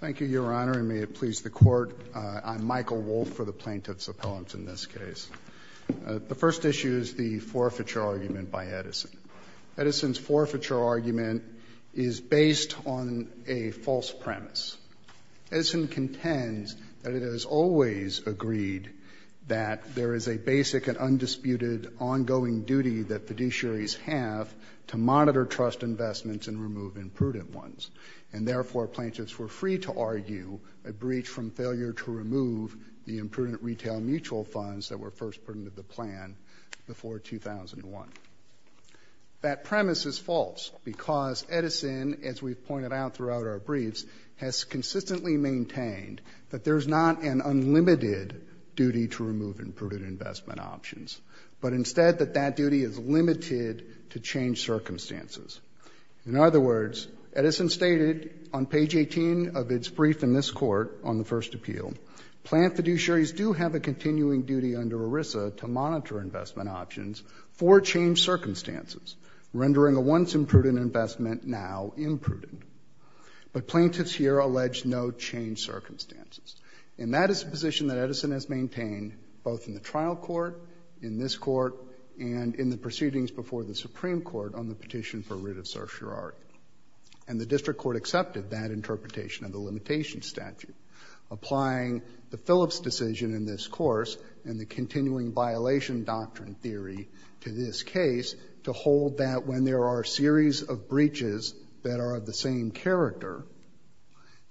Thank you, Your Honor, and may it please the Court, I'm Michael Wolfe for the Plaintiffs' Appellants in this case. The first issue is the forfeiture argument by Edison. Edison's forfeiture argument is based on a false premise. Edison contends that it has always agreed that there is a basic and undisputed ongoing duty that fiduciaries have to monitor trust investments and remove imprudent ones, and therefore plaintiffs were free to argue a breach from failure to remove the imprudent retail mutual funds that were first put into the plan before 2001. That premise is false because Edison, as we've pointed out throughout our briefs, has consistently maintained that there's not an unlimited duty to remove imprudent investment options, but instead that that duty is limited to change circumstances. In other words, Edison stated on page 18 of its brief in this Court on the first appeal, plant fiduciaries do have a continuing duty under ERISA to monitor investment options for change circumstances, rendering a once imprudent investment now imprudent. But plaintiffs here allege no change circumstances, and that is a position that Edison has maintained both in the trial court, in this court, and in the proceedings before the Supreme Court on the petition for writ of certiorari. And the district court accepted that interpretation of the limitation statute, applying the Phillips decision in this course and the continuing violation doctrine theory to this case to hold that when there are a series of breaches that are of the same character,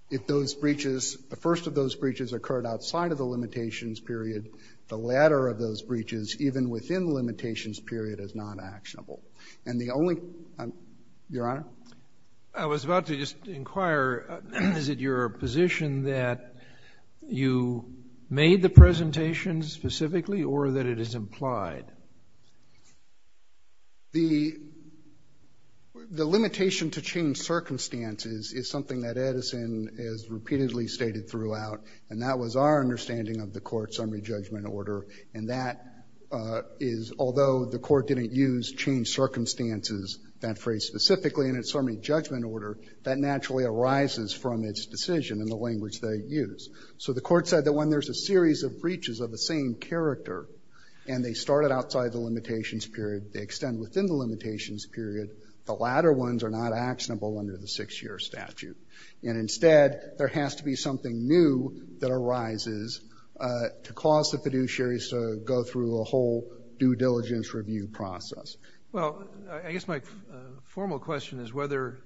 if those breaches, the first of those breaches occurred outside of the limitations period, the latter of those breaches, even within the limitations period, is not actionable. And the only, Your Honor? I was about to just inquire, is it your position that you made the presentation specifically or that it is implied? The limitation to change circumstances is something that Edison has repeatedly stated throughout, and that was our understanding of the court's summary judgment order. And that is, although the court didn't use change circumstances, that phrase specifically in its summary judgment order, that naturally arises from its decision in the language they use. So the court said that when there's a series of breaches of the same character and they started outside the limitations period, they extend within the limitations period, the latter ones are not actionable under the 6-year statute. And instead, there has to be something new that arises to cause the fiduciaries to go through a whole due diligence review process. Well, I guess my formal question is whether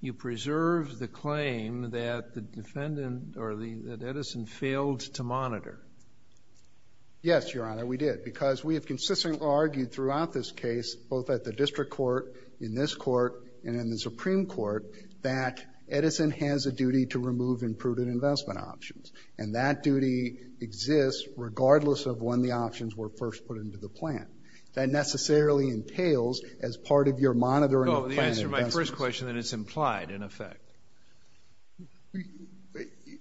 you preserved the claim that the defendant or that Edison failed to monitor. Yes, Your Honor, we did, because we have consistently argued throughout this case, both at the District Court, in this Court, and in the Supreme Court, that Edison has a duty to remove imprudent investment options. And that duty exists regardless of when the options were first put into the plan. That necessarily entails, as part of your monitoring of planned investments— No, but the answer to my first question, that it's implied, in effect.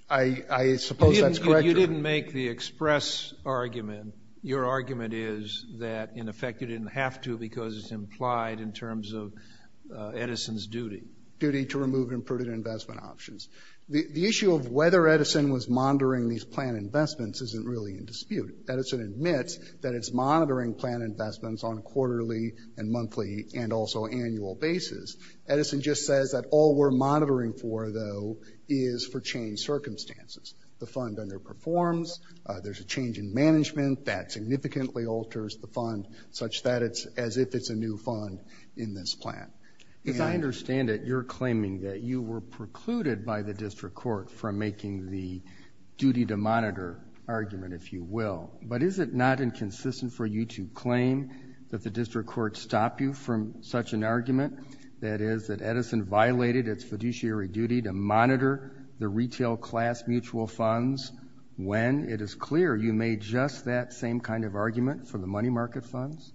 I suppose that's correct, Your Honor. You didn't make the express argument. Your argument is that, in effect, you didn't have to because it's implied in terms of Edison's duty. Duty to remove imprudent investment options. The issue of whether Edison was monitoring these planned investments isn't really in dispute. Edison admits that it's monitoring planned investments on a quarterly and monthly and also annual basis. Edison just says that all we're monitoring for, though, is for changed circumstances. The fund underperforms, there's a change in management that significantly alters the fund, such that it's as if it's a new fund in this plan. As I understand it, you're claiming that you were precluded by the District Court from making the duty to monitor argument, if you will. But is it not inconsistent for you to claim that the District Court stopped you from such an argument? That is, that Edison violated its fiduciary duty to monitor the retail class mutual funds when, it is clear, you made just that same kind of argument for the money market funds?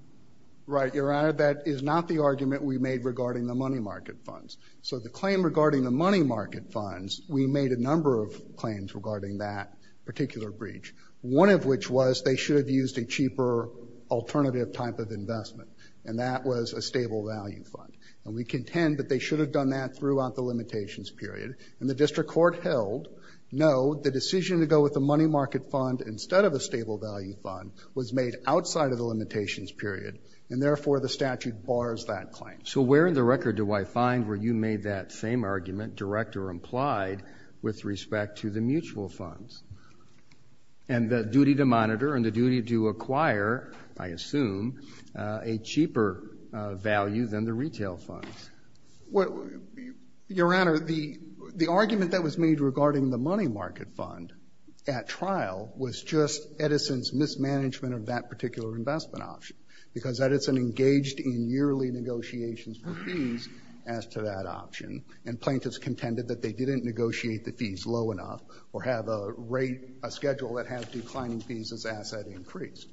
Right, Your Honor. That is not the argument we made regarding the money market funds. So the claim regarding the money market funds, we made a number of claims regarding that particular breach. One of which was they should have used a cheaper alternative type of investment, and that was a stable value fund. And we contend that they should have done that throughout the limitations period. And the District Court held, no, the decision to go with the money market fund instead of a stable value fund was made outside of the limitations period, and therefore the statute bars that claim. So where in the record do I find where you made that same argument, direct or implied, with respect to the mutual funds? And the duty to monitor and the duty to acquire, I guess, a cheaper value than the retail funds? Your Honor, the argument that was made regarding the money market fund at trial was just Edison's mismanagement of that particular investment option. Because Edison engaged in yearly negotiations for fees as to that option, and plaintiffs contended that they didn't negotiate the fees low enough or have a rate, a schedule that had declining fees as the asset increased.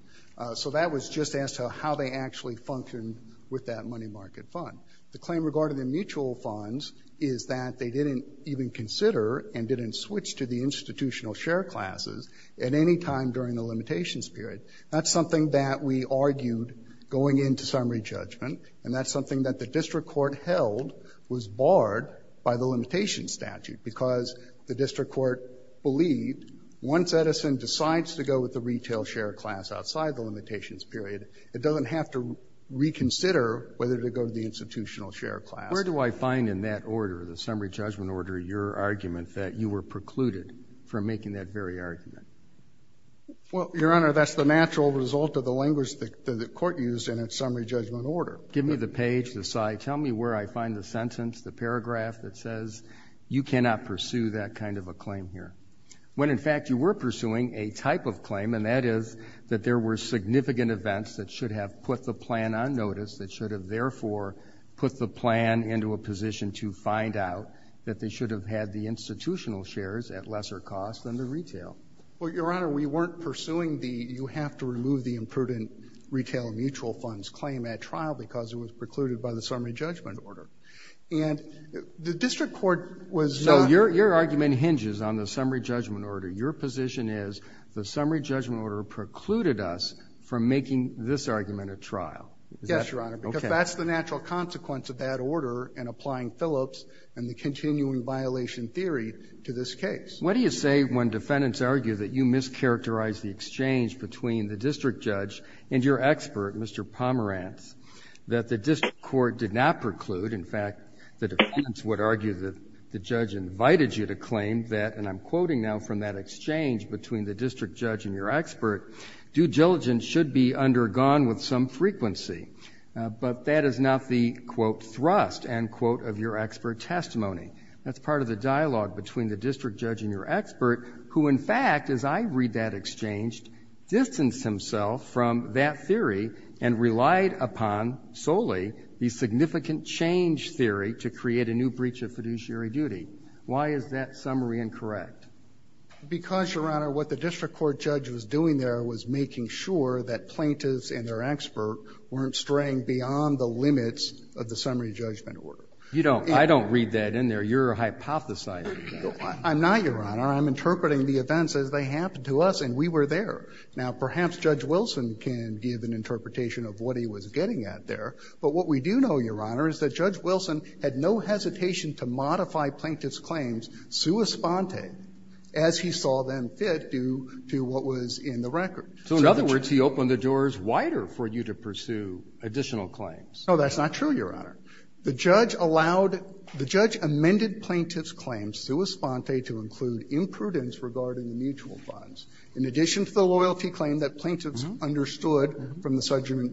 So that was just as to how they actually functioned with that money market fund. The claim regarding the mutual funds is that they didn't even consider and didn't switch to the institutional share classes at any time during the limitations period. That's something that we argued going into summary judgment, and that's something that the District Court held was barred by the limitations statute. Because the District Court believed once Edison decides to go with outside the limitations period, it doesn't have to reconsider whether to go to the institutional share class. Where do I find in that order, the summary judgment order, your argument that you were precluded from making that very argument? Well, Your Honor, that's the natural result of the language that the Court used in its summary judgment order. Give me the page, the slide. Tell me where I find the sentence, the paragraph that says you cannot pursue that kind of a claim here, when in fact you were pursuing a type of claim, and that is that there were significant events that should have put the plan on notice that should have, therefore, put the plan into a position to find out that they should have had the institutional shares at lesser cost than the retail. Well, Your Honor, we weren't pursuing the, you have to remove the imprudent retail mutual funds claim at trial because it was precluded by the summary judgment order. And the District Court was— No, your argument hinges on the summary judgment order. Your position is the summary judgment order precluded us from making this argument at trial. Yes, Your Honor, because that's the natural consequence of that order in applying Phillips and the continuing violation theory to this case. What do you say when defendants argue that you mischaracterized the exchange between the district judge and your expert, Mr. Pomerantz, that the district court did not preclude? In fact, the defendants would argue that the judge invited you to claim that, and I'm quoting now from that exchange between the district judge and your expert, due diligence should be undergone with some frequency. But that is not the, quote, thrust, end quote, of your expert testimony. That's part of the dialogue between the district judge and your expert, who, in fact, as I read that exchange, distanced himself from that theory and relied upon solely the significant change theory to create a new breach of fiduciary duty. Why is that summary incorrect? Because, Your Honor, what the district court judge was doing there was making sure that plaintiffs and their expert weren't straying beyond the limits of the summary judgment order. You don't – I don't read that in there. You're hypothesizing that. I'm not, Your Honor. I'm interpreting the events as they happened to us, and we were there. Now, perhaps Judge Wilson can give an interpretation of what he was getting at there. But what we do know, Your Honor, is that Judge Wilson had no hesitation to modify plaintiffs' claims sua sponte as he saw them fit due to what was in the record. So in other words, he opened the doors wider for you to pursue additional claims. No, that's not true, Your Honor. The judge allowed – the judge amended plaintiffs' claims sua sponte to include imprudence regarding the mutual funds, in addition to the loyalty claim that plaintiffs understood from the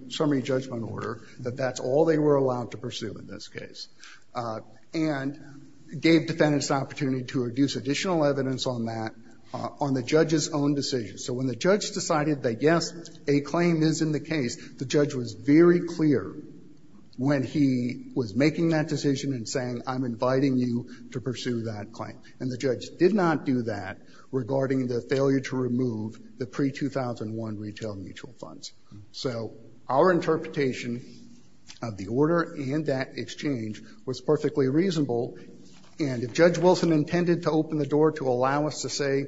summary judgment order that that's all they were allowed to pursue in this case, and gave defendants the opportunity to reduce additional evidence on that on the judge's own decision. So when the judge decided that, yes, a claim is in the case, the judge was very clear when he was making that decision and saying, I'm inviting you to pursue that claim. And the judge did not do that regarding the failure to remove the pre- 2001 retail mutual funds. So our interpretation of the order and that exchange was perfectly reasonable. And if Judge Wilson intended to open the door to allow us to say,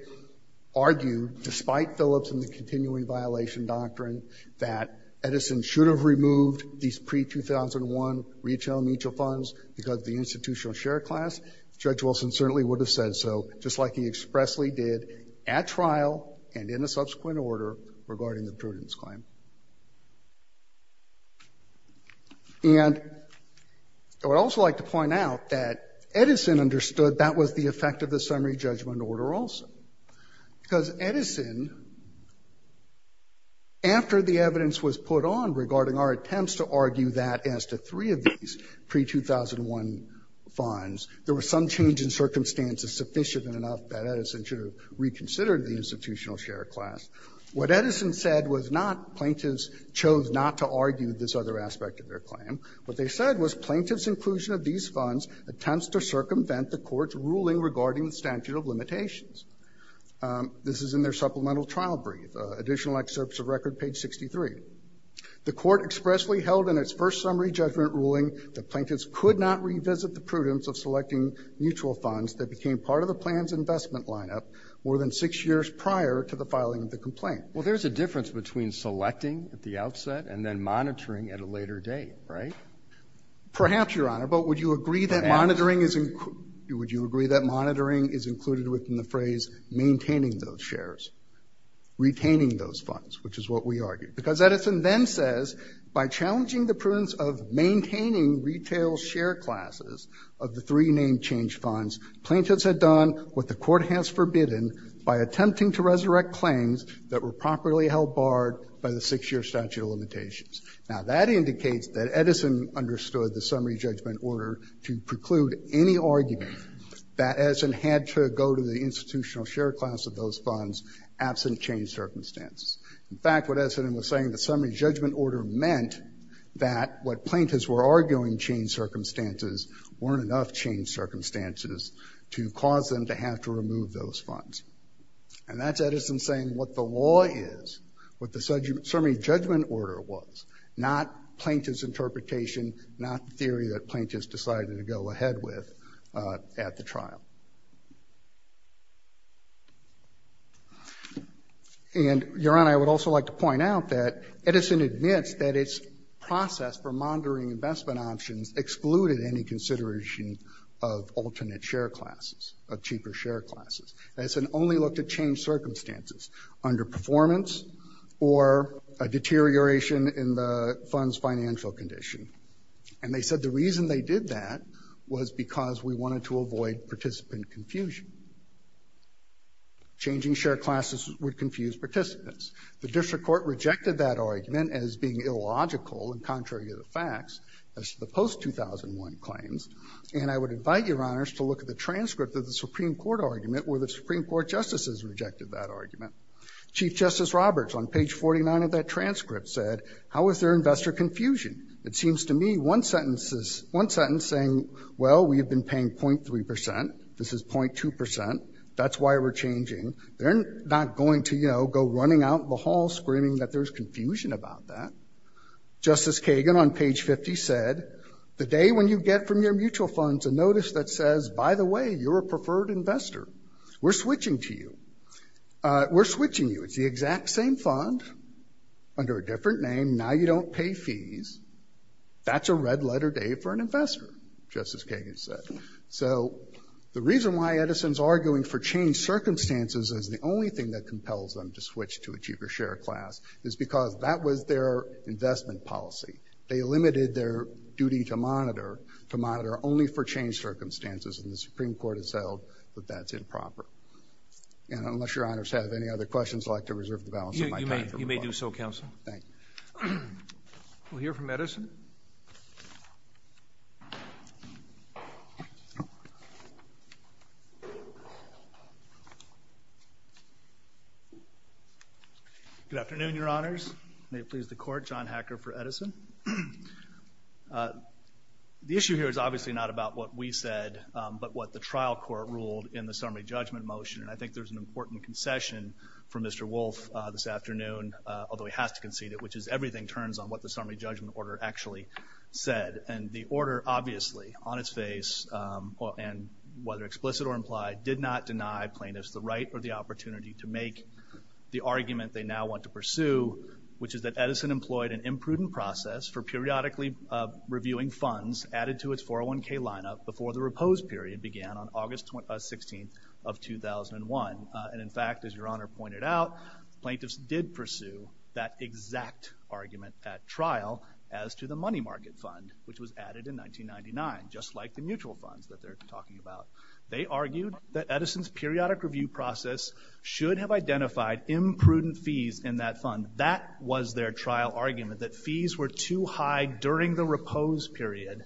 argue, despite Phillips and the continuing violation doctrine, that Edison should have removed these pre-2001 retail mutual funds because of the institutional share class, Judge Wilson certainly would have said so, just like he expressly did at trial and in a subsequent order regarding the prudence claim. And I would also like to point out that Edison understood that was the effect of the summary judgment order also, because Edison, after the evidence was put on regarding our attempts to argue that as to three of these pre-2001 funds, there was some change in circumstances sufficient enough that Edison should have reconsidered the institutional share class. What Edison said was not plaintiffs chose not to argue this other aspect of their claim. What they said was plaintiffs' inclusion of these funds attempts to circumvent the court's ruling regarding the statute of limitations. This is in their supplemental trial brief, additional excerpts of record, page 63. The court expressly held in its first summary judgment ruling that plaintiffs could not revisit the prudence of selecting mutual funds that became part of the plan's investment lineup more than six years prior to the filing of the complaint. Well, there's a difference between selecting at the outset and then monitoring at a later date, right? Perhaps, Your Honor, but would you agree that monitoring is included within the phrase maintaining those shares, retaining those funds, which is what we argued. Because Edison then says, by challenging the prudence of maintaining retail share classes of the three name change funds, plaintiffs had done what the court has forbidden by attempting to resurrect claims that were properly held barred by the six-year statute of limitations. Now, that indicates that Edison understood the summary judgment order to preclude any argument that Edison had to go to the institutional share class of those funds absent change circumstances. In fact, what Edison was saying, the summary judgment order meant that what plaintiffs were arguing, change circumstances, weren't enough change circumstances to cause them to have to remove those funds. And that's Edison saying what the law is, what the summary judgment order was, not plaintiff's interpretation, not the theory that plaintiffs decided to go ahead with at the trial. And, Your Honor, I would also like to point out that Edison admits that its process for monitoring investment options excluded any consideration of alternate share classes. Edison only looked at change circumstances under performance or a deterioration in the fund's financial condition. And they said the reason they did that was because we wanted to avoid participant confusion. Changing share classes would confuse participants. The district court rejected that argument as being illogical and contrary to the facts as to the post-2001 claims. And I would invite Your Honors to look at the transcript of the Supreme Court argument where the Supreme Court justices rejected that argument. Chief Justice Roberts, on page 49 of that transcript, said, how is there investor confusion? It seems to me one sentence is, one sentence saying, well, we have been paying 0.3 percent. This is 0.2 percent. That's why we're changing. They're not going to, you know, go running out in the hall screaming that there's confusion about that. Justice Kagan, on page 50, said, the day when you get from your mutual funds a notice that says, by the way, you're a preferred investor. We're switching to you. We're switching you. It's the exact same fund under a different name. Now you don't pay fees. That's a red-letter day for an investor, Justice Kagan said. So the reason why Edison's arguing for change circumstances is the only thing that compels them to switch to a cheaper share class is because that was their investment policy. They limited their duty to monitor, to monitor only for change circumstances, and the Supreme Court has said that that's improper. And unless your honors have any other questions, I'd like to reserve the balance of my time. You may do so, counsel. Thank you. We'll hear from Edison. Good afternoon, your honors. May it please the court, John Hacker for Edison. The issue here is obviously not about what we said, but what the trial court ruled in the summary judgment motion, and I think there's an important concession from Mr. Wolfe this afternoon, although he has to concede it, which is everything turns on what the summary judgment order actually said. And the order, obviously, on its face, and whether explicit or implied, did not deny plaintiffs the right or the opportunity to make the argument they now want to pursue, which is that Edison employed an imprudent process for periodically reviewing funds added to its 401k lineup before the repose period began on August 16th of 2001. And in fact, as your honor pointed out, plaintiffs did pursue that exact argument at trial as to the money market fund, which was added in 1999, just like the mutual funds that they're talking about. They argued that Edison's periodic review process should have identified imprudent fees in that fund. That was their trial argument, that fees were too high during the repose period,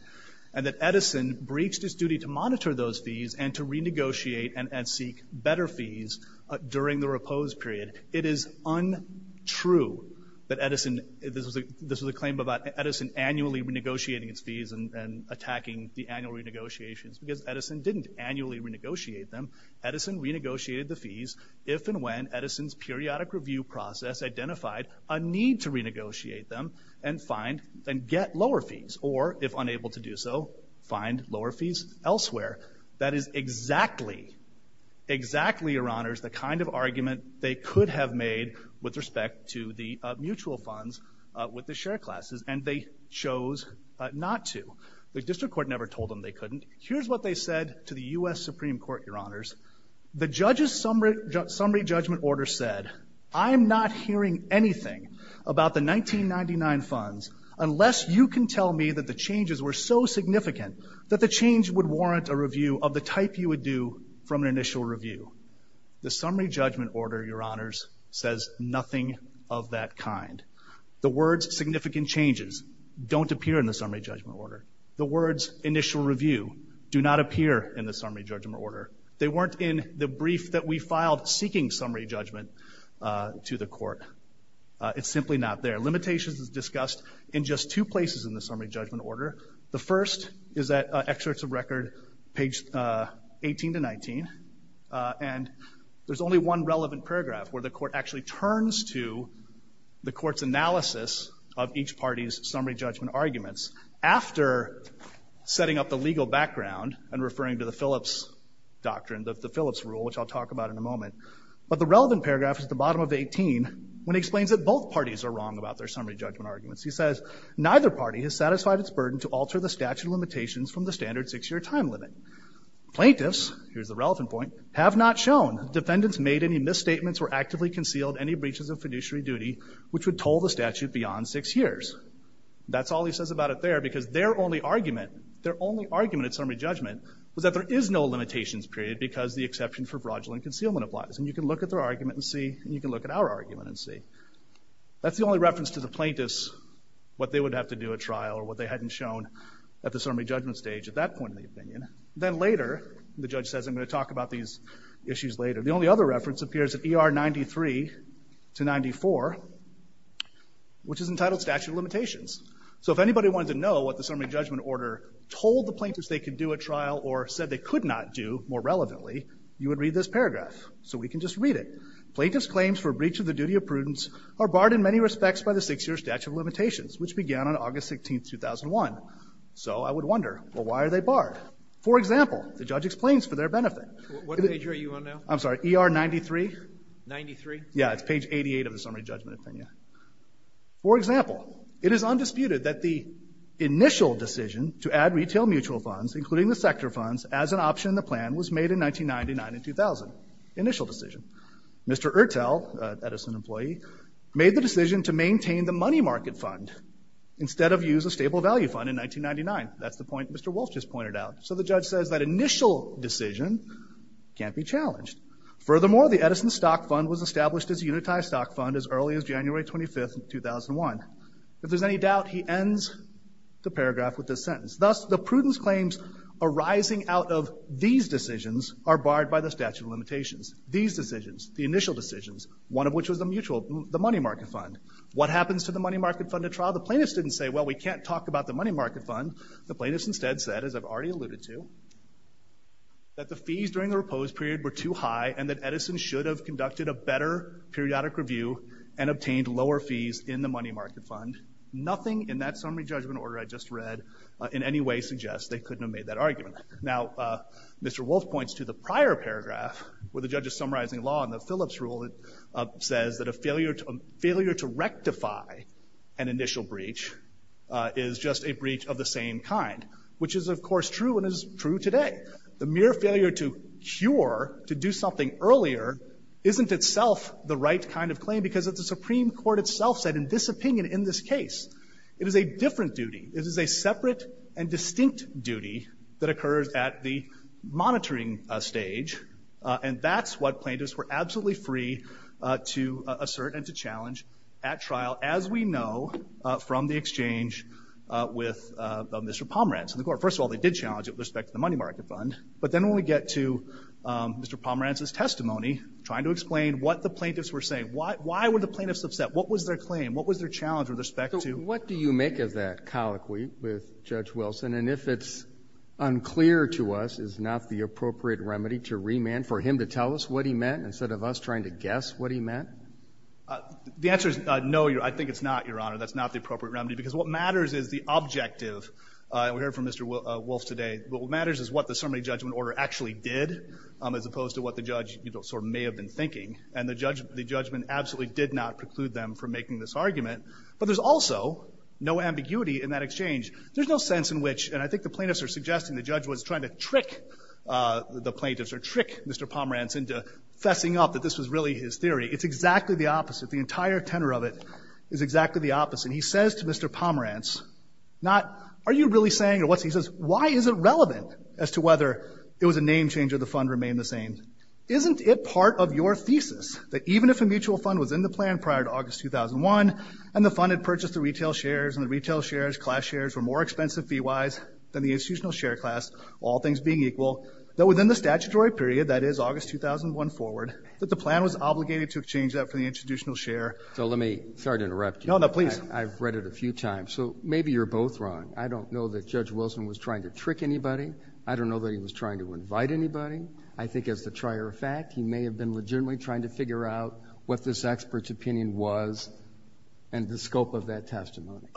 and that Edison breached his duty to monitor those fees and to renegotiate and seek better fees during the repose period. It is untrue that Edison, this was a claim about Edison annually renegotiating its fees and attacking the annual renegotiations, because Edison didn't annually renegotiate them. Edison renegotiated the fees if and when Edison's periodic review process identified a need to renegotiate them and find and get lower fees elsewhere. That is exactly, exactly, your honors, the kind of argument they could have made with respect to the mutual funds with the share classes, and they chose not to. The district court never told them they couldn't. Here's what they said to the U.S. Supreme Court, your honors. The judge's summary judgment order said, I'm not hearing anything about the 1999 funds unless you can tell me that the changes were so significant that the change would warrant a review of the type you would do from an initial review. The summary judgment order, your honors, says nothing of that kind. The words significant changes don't appear in the summary judgment order. The words initial review do not appear in the summary judgment order. They weren't in the brief that we filed seeking summary judgment to the court. It's simply not there. Limitations is discussed in just two places in the summary judgment order. The first is at excerpts of record, page 18 to 19, and there's only one relevant paragraph where the court actually turns to the court's analysis of each party's summary judgment arguments after setting up the legal background and referring to the Phillips doctrine, the Phillips rule, which I'll talk about in a moment. But the relevant paragraph is at the bottom of the 18 when it explains that both parties are wrong about their summary judgment arguments. He says, neither party has satisfied its burden to alter the statute limitations from the standard six-year time limit. Plaintiffs, here's the relevant point, have not shown defendants made any misstatements or actively concealed any breaches of fiduciary duty, which would toll the statute beyond six years. That's all he says about it there because their only argument, their only argument at summary judgment was that there is no limitations period because the exception for fraudulent concealment applies. And you can look at their argument and see, and you can look at our argument and see. That's the only reference to the plaintiffs, what they would have to do at trial or what they hadn't shown at the summary judgment stage at that point in the opinion. Then later, the judge says, I'm going to talk about these issues later. The only other reference appears at ER 93 to 94, which is entitled statute of limitations. So if anybody wanted to know what the summary judgment order told the plaintiffs they could do at trial or said they could not do more relevantly, you would read this paragraph. So we can just read it. Plaintiffs' claims for breach of the duty of prudence are barred in many respects by the six-year statute of limitations, which began on August 16, 2001. So I would wonder, well, why are they barred? For example, the judge explains for their benefit. Roberts. What page are you on now? Fisher. I'm sorry. ER 93? Roberts. 93? Fisher. Yeah. It's page 88 of the summary judgment opinion. For example, it is undisputed that the initial decision to add retail mutual funds, including the sector funds, as an option in the plan was made in 1999 and 2000. Initial decision. Mr. Ertel, an Edison employee, made the decision to maintain the money market fund instead of use a stable value fund in 1999. That's the point Mr. Wolf just pointed out. So the judge says that initial decision can't be challenged. Furthermore, the Edison stock fund was established as a unitized stock fund as early as January 25, 2001. If there's any doubt, he ends the paragraph with this These decisions are barred by the statute of limitations. These decisions, the initial decisions, one of which was the mutual, the money market fund. What happens to the money market fund at trial? The plaintiffs didn't say, well, we can't talk about the money market fund. The plaintiffs instead said, as I've already alluded to, that the fees during the reposed period were too high and that Edison should have conducted a better periodic review and obtained lower fees in the money market fund. Nothing in that summary judgment order I just read in any way suggests they couldn't have made that argument. Now, Mr. Wolf points to the prior paragraph where the judge is summarizing law and the Phillips rule says that a failure to rectify an initial breach is just a breach of the same kind, which is of course true and is true today. The mere failure to cure, to do something earlier, isn't itself the right kind of claim because the Supreme Court itself said in this opinion, in this case, it is a different duty. It is a separate and distinct duty that occurs at the monitoring stage. And that's what plaintiffs were absolutely free to assert and to challenge at trial, as we know from the exchange with Mr. Pomerantz and the court. First of all, they did challenge it with respect to the money market fund. But then when we get to Mr. Pomerantz's testimony, trying to explain what the plaintiffs were saying, why were the plaintiffs upset? What was their claim? What was their challenge with respect to— What do you make of that colloquy with Judge Wilson? And if it's unclear to us, is not the appropriate remedy to remand for him to tell us what he meant instead of us trying to guess what he meant? The answer is no, I think it's not, Your Honor. That's not the appropriate remedy because what matters is the objective. We heard from Mr. Wolf today. What matters is what the summary judgment order actually did as opposed to what the judge sort of may have been thinking. And the judgment absolutely did not preclude them from making this argument. But there's also no ambiguity in that exchange. There's no sense in which—and I think the plaintiffs are suggesting the judge was trying to trick the plaintiffs or trick Mr. Pomerantz into fessing up that this was really his theory. It's exactly the opposite. The entire tenor of it is exactly the opposite. He says to Mr. Pomerantz, not, are you really saying or what's—he says, why is it relevant as to whether it was a name change or the fund remained the same? Isn't it part of your thesis that even if a mutual fund was in the plan prior to August 2001 and the fund had purchased the retail shares and the retail shares, class shares, were more expensive fee-wise than the institutional share class, all things being equal, that within the statutory period, that is August 2001 forward, that the plan was obligated to exchange that for the institutional share? So let me—sorry to interrupt you. No, no, please. I've read it a few times. So maybe you're both wrong. I don't know that Judge Wilson was trying to trick anybody. I don't know that he was trying to invite anybody. I think as a trier of fact, he may have been legitimately trying to figure out what this expert's opinion was and the scope of that testimony.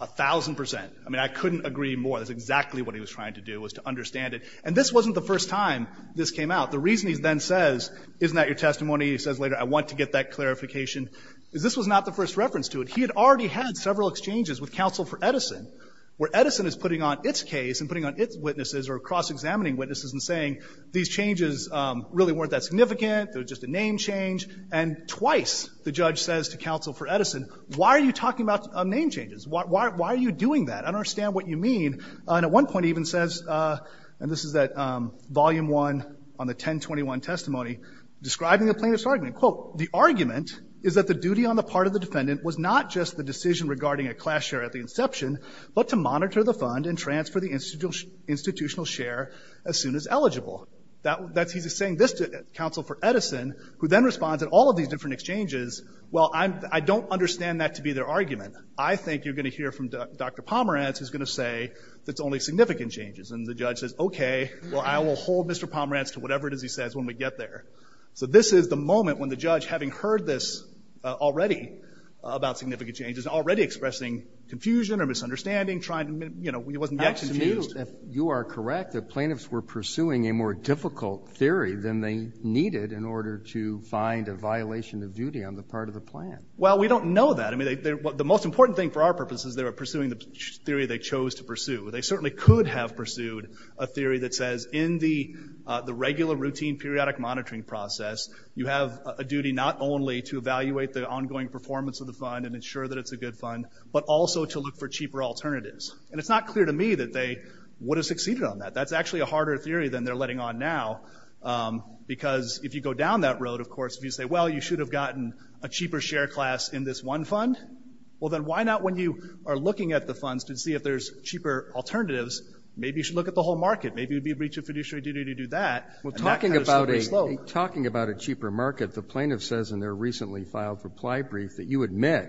A thousand percent. I mean, I couldn't agree more. That's exactly what he was trying to do, was to understand it. And this wasn't the first time this came out. The reason he then says, isn't that your testimony? He says later, I want to get that clarification. This was not the first reference to it. He had already had several exchanges with counsel for Edison, where Edison is putting on its case and putting on its witnesses or cross-examining witnesses and saying, these changes really weren't that significant. They were just a name change. And twice the judge says to counsel for Edison, why are you talking about name changes? Why are you doing that? I don't understand what you mean. And at one point he even says, and this is at Volume I on the 1021 testimony, describing the plaintiff's argument, quote, the argument is that the duty on the part of the defendant was not just the decision regarding a class share at the inception, but to monitor the fund and transfer the institutional share as soon as eligible. He's saying this to counsel for Edison, who then responds in all of these different exchanges, well, I don't understand that to be their argument. I think you're going to hear from Dr. Pomerantz, who's going to say it's only significant changes. And the judge says, okay, well, I will hold Mr. Pomerantz to whatever it is he says when we get there. So this is the moment when the judge, having heard this already about significant changes, already expressing confusion or misunderstanding, trying to, you know, he wasn't yet confused. I assume, if you are correct, that plaintiffs were pursuing a more difficult theory than they needed in order to find a violation of duty on the part of the plan. Well, we don't know that. I mean, the most important thing for our purpose is they were pursuing the theory they chose to pursue. They certainly could have pursued a You have a duty not only to evaluate the ongoing performance of the fund and ensure that it's a good fund, but also to look for cheaper alternatives. And it's not clear to me that they would have succeeded on that. That's actually a harder theory than they're letting on now. Because if you go down that road, of course, if you say, well, you should have gotten a cheaper share class in this one fund, well, then why not when you are looking at the funds to see if there's cheaper alternatives, maybe you should look at the whole market. Maybe it would be a breach of fiduciary duty to do that. Well, talking about a cheaper market, the plaintiff says in their recently filed reply brief that you admit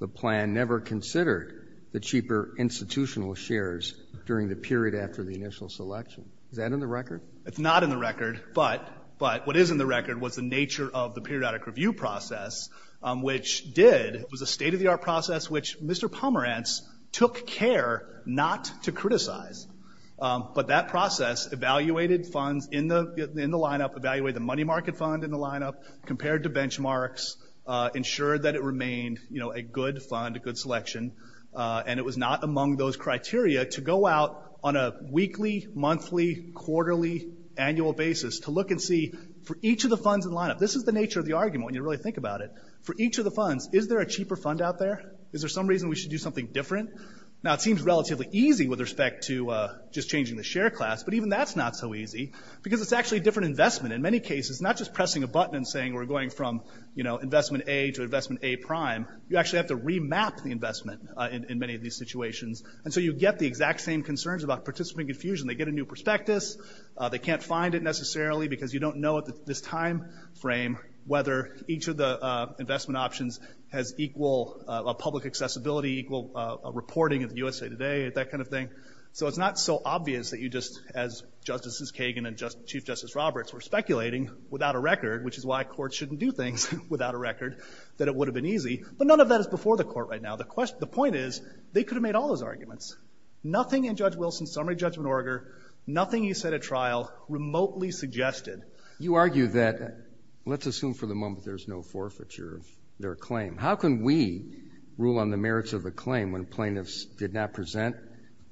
the plan never considered the cheaper institutional shares during the period after the initial selection. Is that in the record? It's not in the record. But what is in the record was the nature of the periodic review process, which did, was a state-of-the-art process which Mr. Pomerantz took care not to criticize. But that process evaluated funds in the line-up, evaluated the money market fund in the line-up, compared to benchmarks, ensured that it remained a good fund, a good selection. And it was not among those criteria to go out on a weekly, monthly, quarterly, annual basis to look and see for each of the funds in the line-up. This is the nature of the argument when you really think about it. For each of the funds, is there a cheaper fund out there? Is there some reason we should do something different? Now, it seems relatively easy with respect to just changing the share class, but even that's not so easy because it's actually a different investment. In many cases, it's not just pressing a button and saying we're going from, you know, investment A to investment A prime. You actually have to remap the investment in many of these situations. And so you get the exact same concerns about participant confusion. They get a new prospectus. They can't find it necessarily because you don't know at this time frame whether each of the funds have the same credibility, equal reporting at the USA Today, that kind of thing. So it's not so obvious that you just, as Justices Kagan and Chief Justice Roberts, were speculating without a record, which is why courts shouldn't do things without a record, that it would have been easy. But none of that is before the court right now. The point is, they could have made all those arguments. Nothing in Judge Wilson's summary judgment order, nothing he said at trial, remotely suggested. You argue that, let's assume for the moment there's no forfeiture of their claim. How can we rule on the merits of a claim when plaintiffs did not present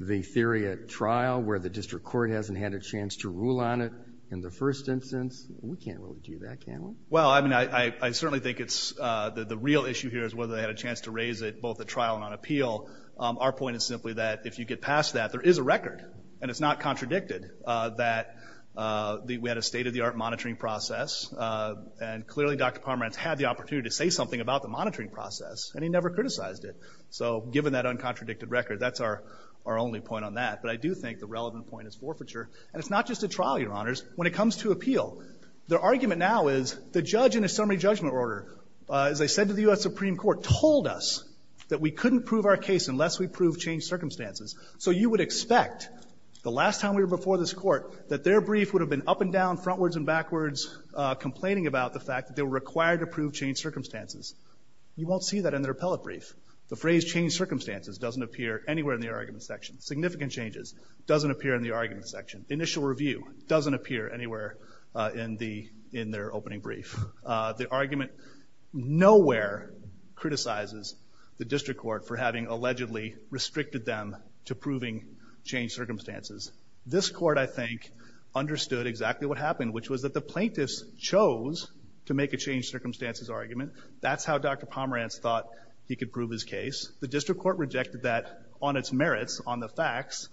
the theory at trial, where the district court hasn't had a chance to rule on it in the first instance? We can't really do that, can we? Well, I mean, I certainly think it's, the real issue here is whether they had a chance to raise it, both at trial and on appeal. Our point is simply that if you get past that, there is a record. And it's not contradicted that we had a state of the art monitoring process. And clearly, Dr. Pomerantz had the opportunity to say something about the monitoring process, and he never criticized it. So given that uncontradicted record, that's our only point on that. But I do think the relevant point is forfeiture. And it's not just at trial, Your Honors. When it comes to appeal, the argument now is, the judge in a summary judgment order, as I said to the U.S. Supreme Court, told us that we couldn't prove our case unless we proved changed circumstances. So you would expect, the last time we were before this court, that their brief would have been up and down, frontwards and backwards, complaining about the fact that they were required to prove changed circumstances. You won't see that in their appellate brief. The phrase, changed circumstances, doesn't appear anywhere in the argument section. Significant changes, doesn't appear in the argument section. Initial review, doesn't appear anywhere in their opening brief. The argument nowhere criticizes the district court for having allegedly restricted them to proving changed circumstances. This court, I think, understood exactly what happened, which was that the plaintiffs chose to make a changed circumstances argument. That's how Dr. Pomerantz thought he could prove his case. The district court rejected that on its merits, on the facts,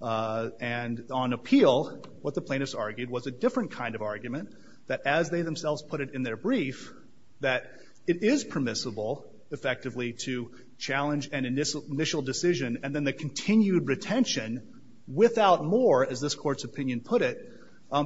and on appeal. What the plaintiffs argued was a different kind of argument, that as they themselves put it in their brief, that it is permissible, effectively, to challenge an initial decision, and then the continued retention, without more, as this court's opinion put it,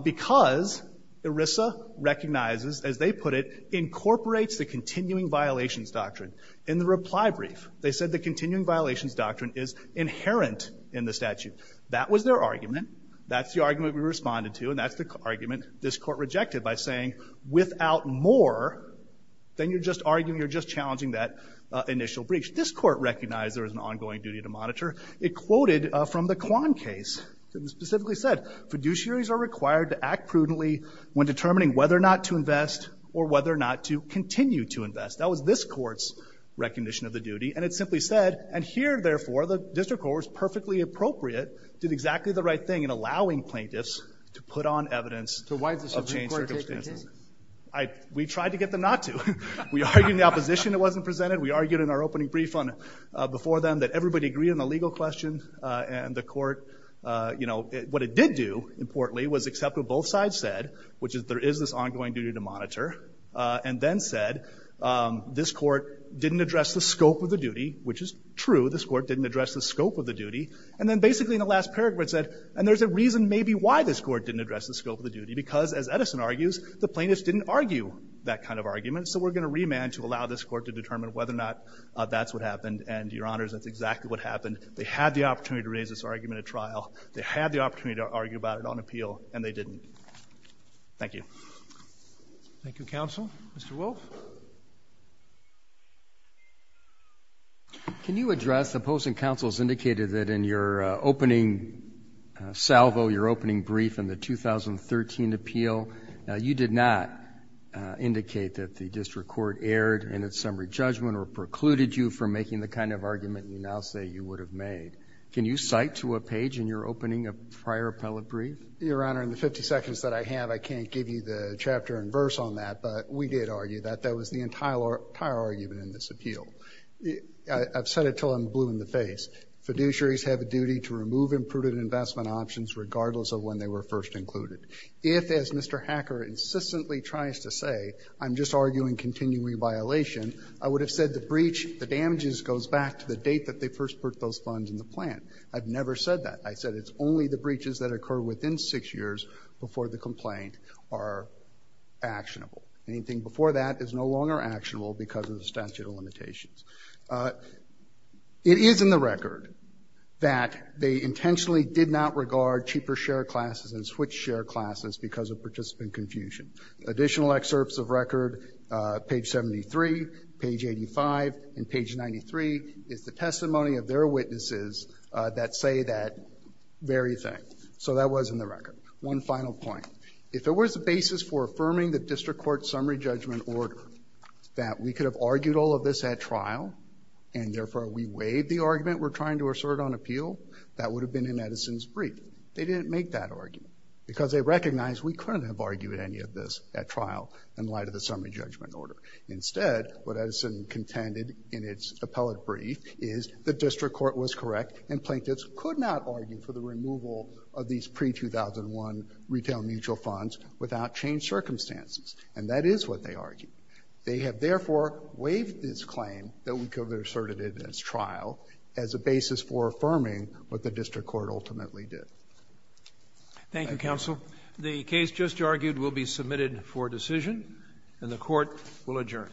because ERISA recognizes, as they put it, incorporates the continuing violations doctrine. In the reply brief, they said the continuing violations doctrine is inherent in the statute. That was their argument. That's the argument we responded to, and that's the argument this court rejected by saying, without more, then you're just arguing, you're just challenging that initial breach. This court recognized there was an ongoing duty to monitor. It quoted from the Kwan case, specifically said, fiduciaries are required to act prudently when determining whether or not to invest, or whether or not to continue to invest. That was this court's recognition of the duty, and it simply said, and here, therefore, the district court was perfectly appropriate, did exactly the right thing in allowing plaintiffs to put on evidence of changed circumstances. So why did the district court take it in? We tried to get them not to. We argued in the opposition, it wasn't presented. We argued in our opening brief before them that everybody agreed on the legal question, and the court, you know, what it did do, importantly, was accept what both sides said, which is there is this ongoing duty to monitor, and then said, this court didn't address the scope of the duty, which is true, this court didn't address the scope of the duty, and then basically in the last paragraph said, and there's a reason maybe why this court didn't address the scope of the duty, because, as Edison argues, the plaintiffs didn't argue that kind of argument, so we're going to remand to allow this court to determine whether or not that's what happened, and, Your Honors, that's exactly what happened. They had the opportunity to raise this argument at trial. They had the opportunity to argue about it on appeal, and they didn't. Thank you. Thank you, counsel. Mr. Wolf? Can you address, the opposing counsels indicated that in your opening salvo, your opening brief in the 2013 appeal, you did not indicate that the district court erred in its summary judgment, or precluded you from making the kind of argument you now say you would have made. Can you cite to a page in your opening of prior appellate brief? Your Honor, in the 50 seconds that I have, I can't give you the chapter and verse on that, but we did argue that that was the entire argument in this appeal. I've said it till I'm blue in the face. Fiduciaries have a duty to remove imprudent investment options regardless of when they were first included. If, as Mr. Hacker insistently tries to say, I'm just arguing continuing violation, I would have said the breach, the damages goes back to the date that they first put those funds in the plant. I've never said that. I said it's only the breaches that occur within six years before the complaint are actionable. Anything before that is no longer actionable because of the statute of limitations. It is in the record that they intentionally did not regard cheaper share classes and switch share classes because of participant confusion. Additional excerpts of record, page 73, page 85, and page 93, is the testimony of their witnesses that say that very thing. So that was in the record. One final point. If there was a basis for affirming the district court summary judgment order, that we could have argued all of this at trial and therefore we waived the argument we're trying to assert on appeal, that would have been in Edison's brief. They didn't make that argument because they recognized we couldn't have argued any of this at trial in light of the summary judgment order. Instead, what Edison contended in its appellate brief is the district court was correct and plaintiffs could not argue for the removal of these pre-2001 retail mutual funds without changed circumstances. And that is what they argued. They have therefore waived this claim that we could have asserted it at trial as a basis for affirming what the district court ultimately did. Thank you, counsel. The case just argued will be submitted for decision and the court will adjourn.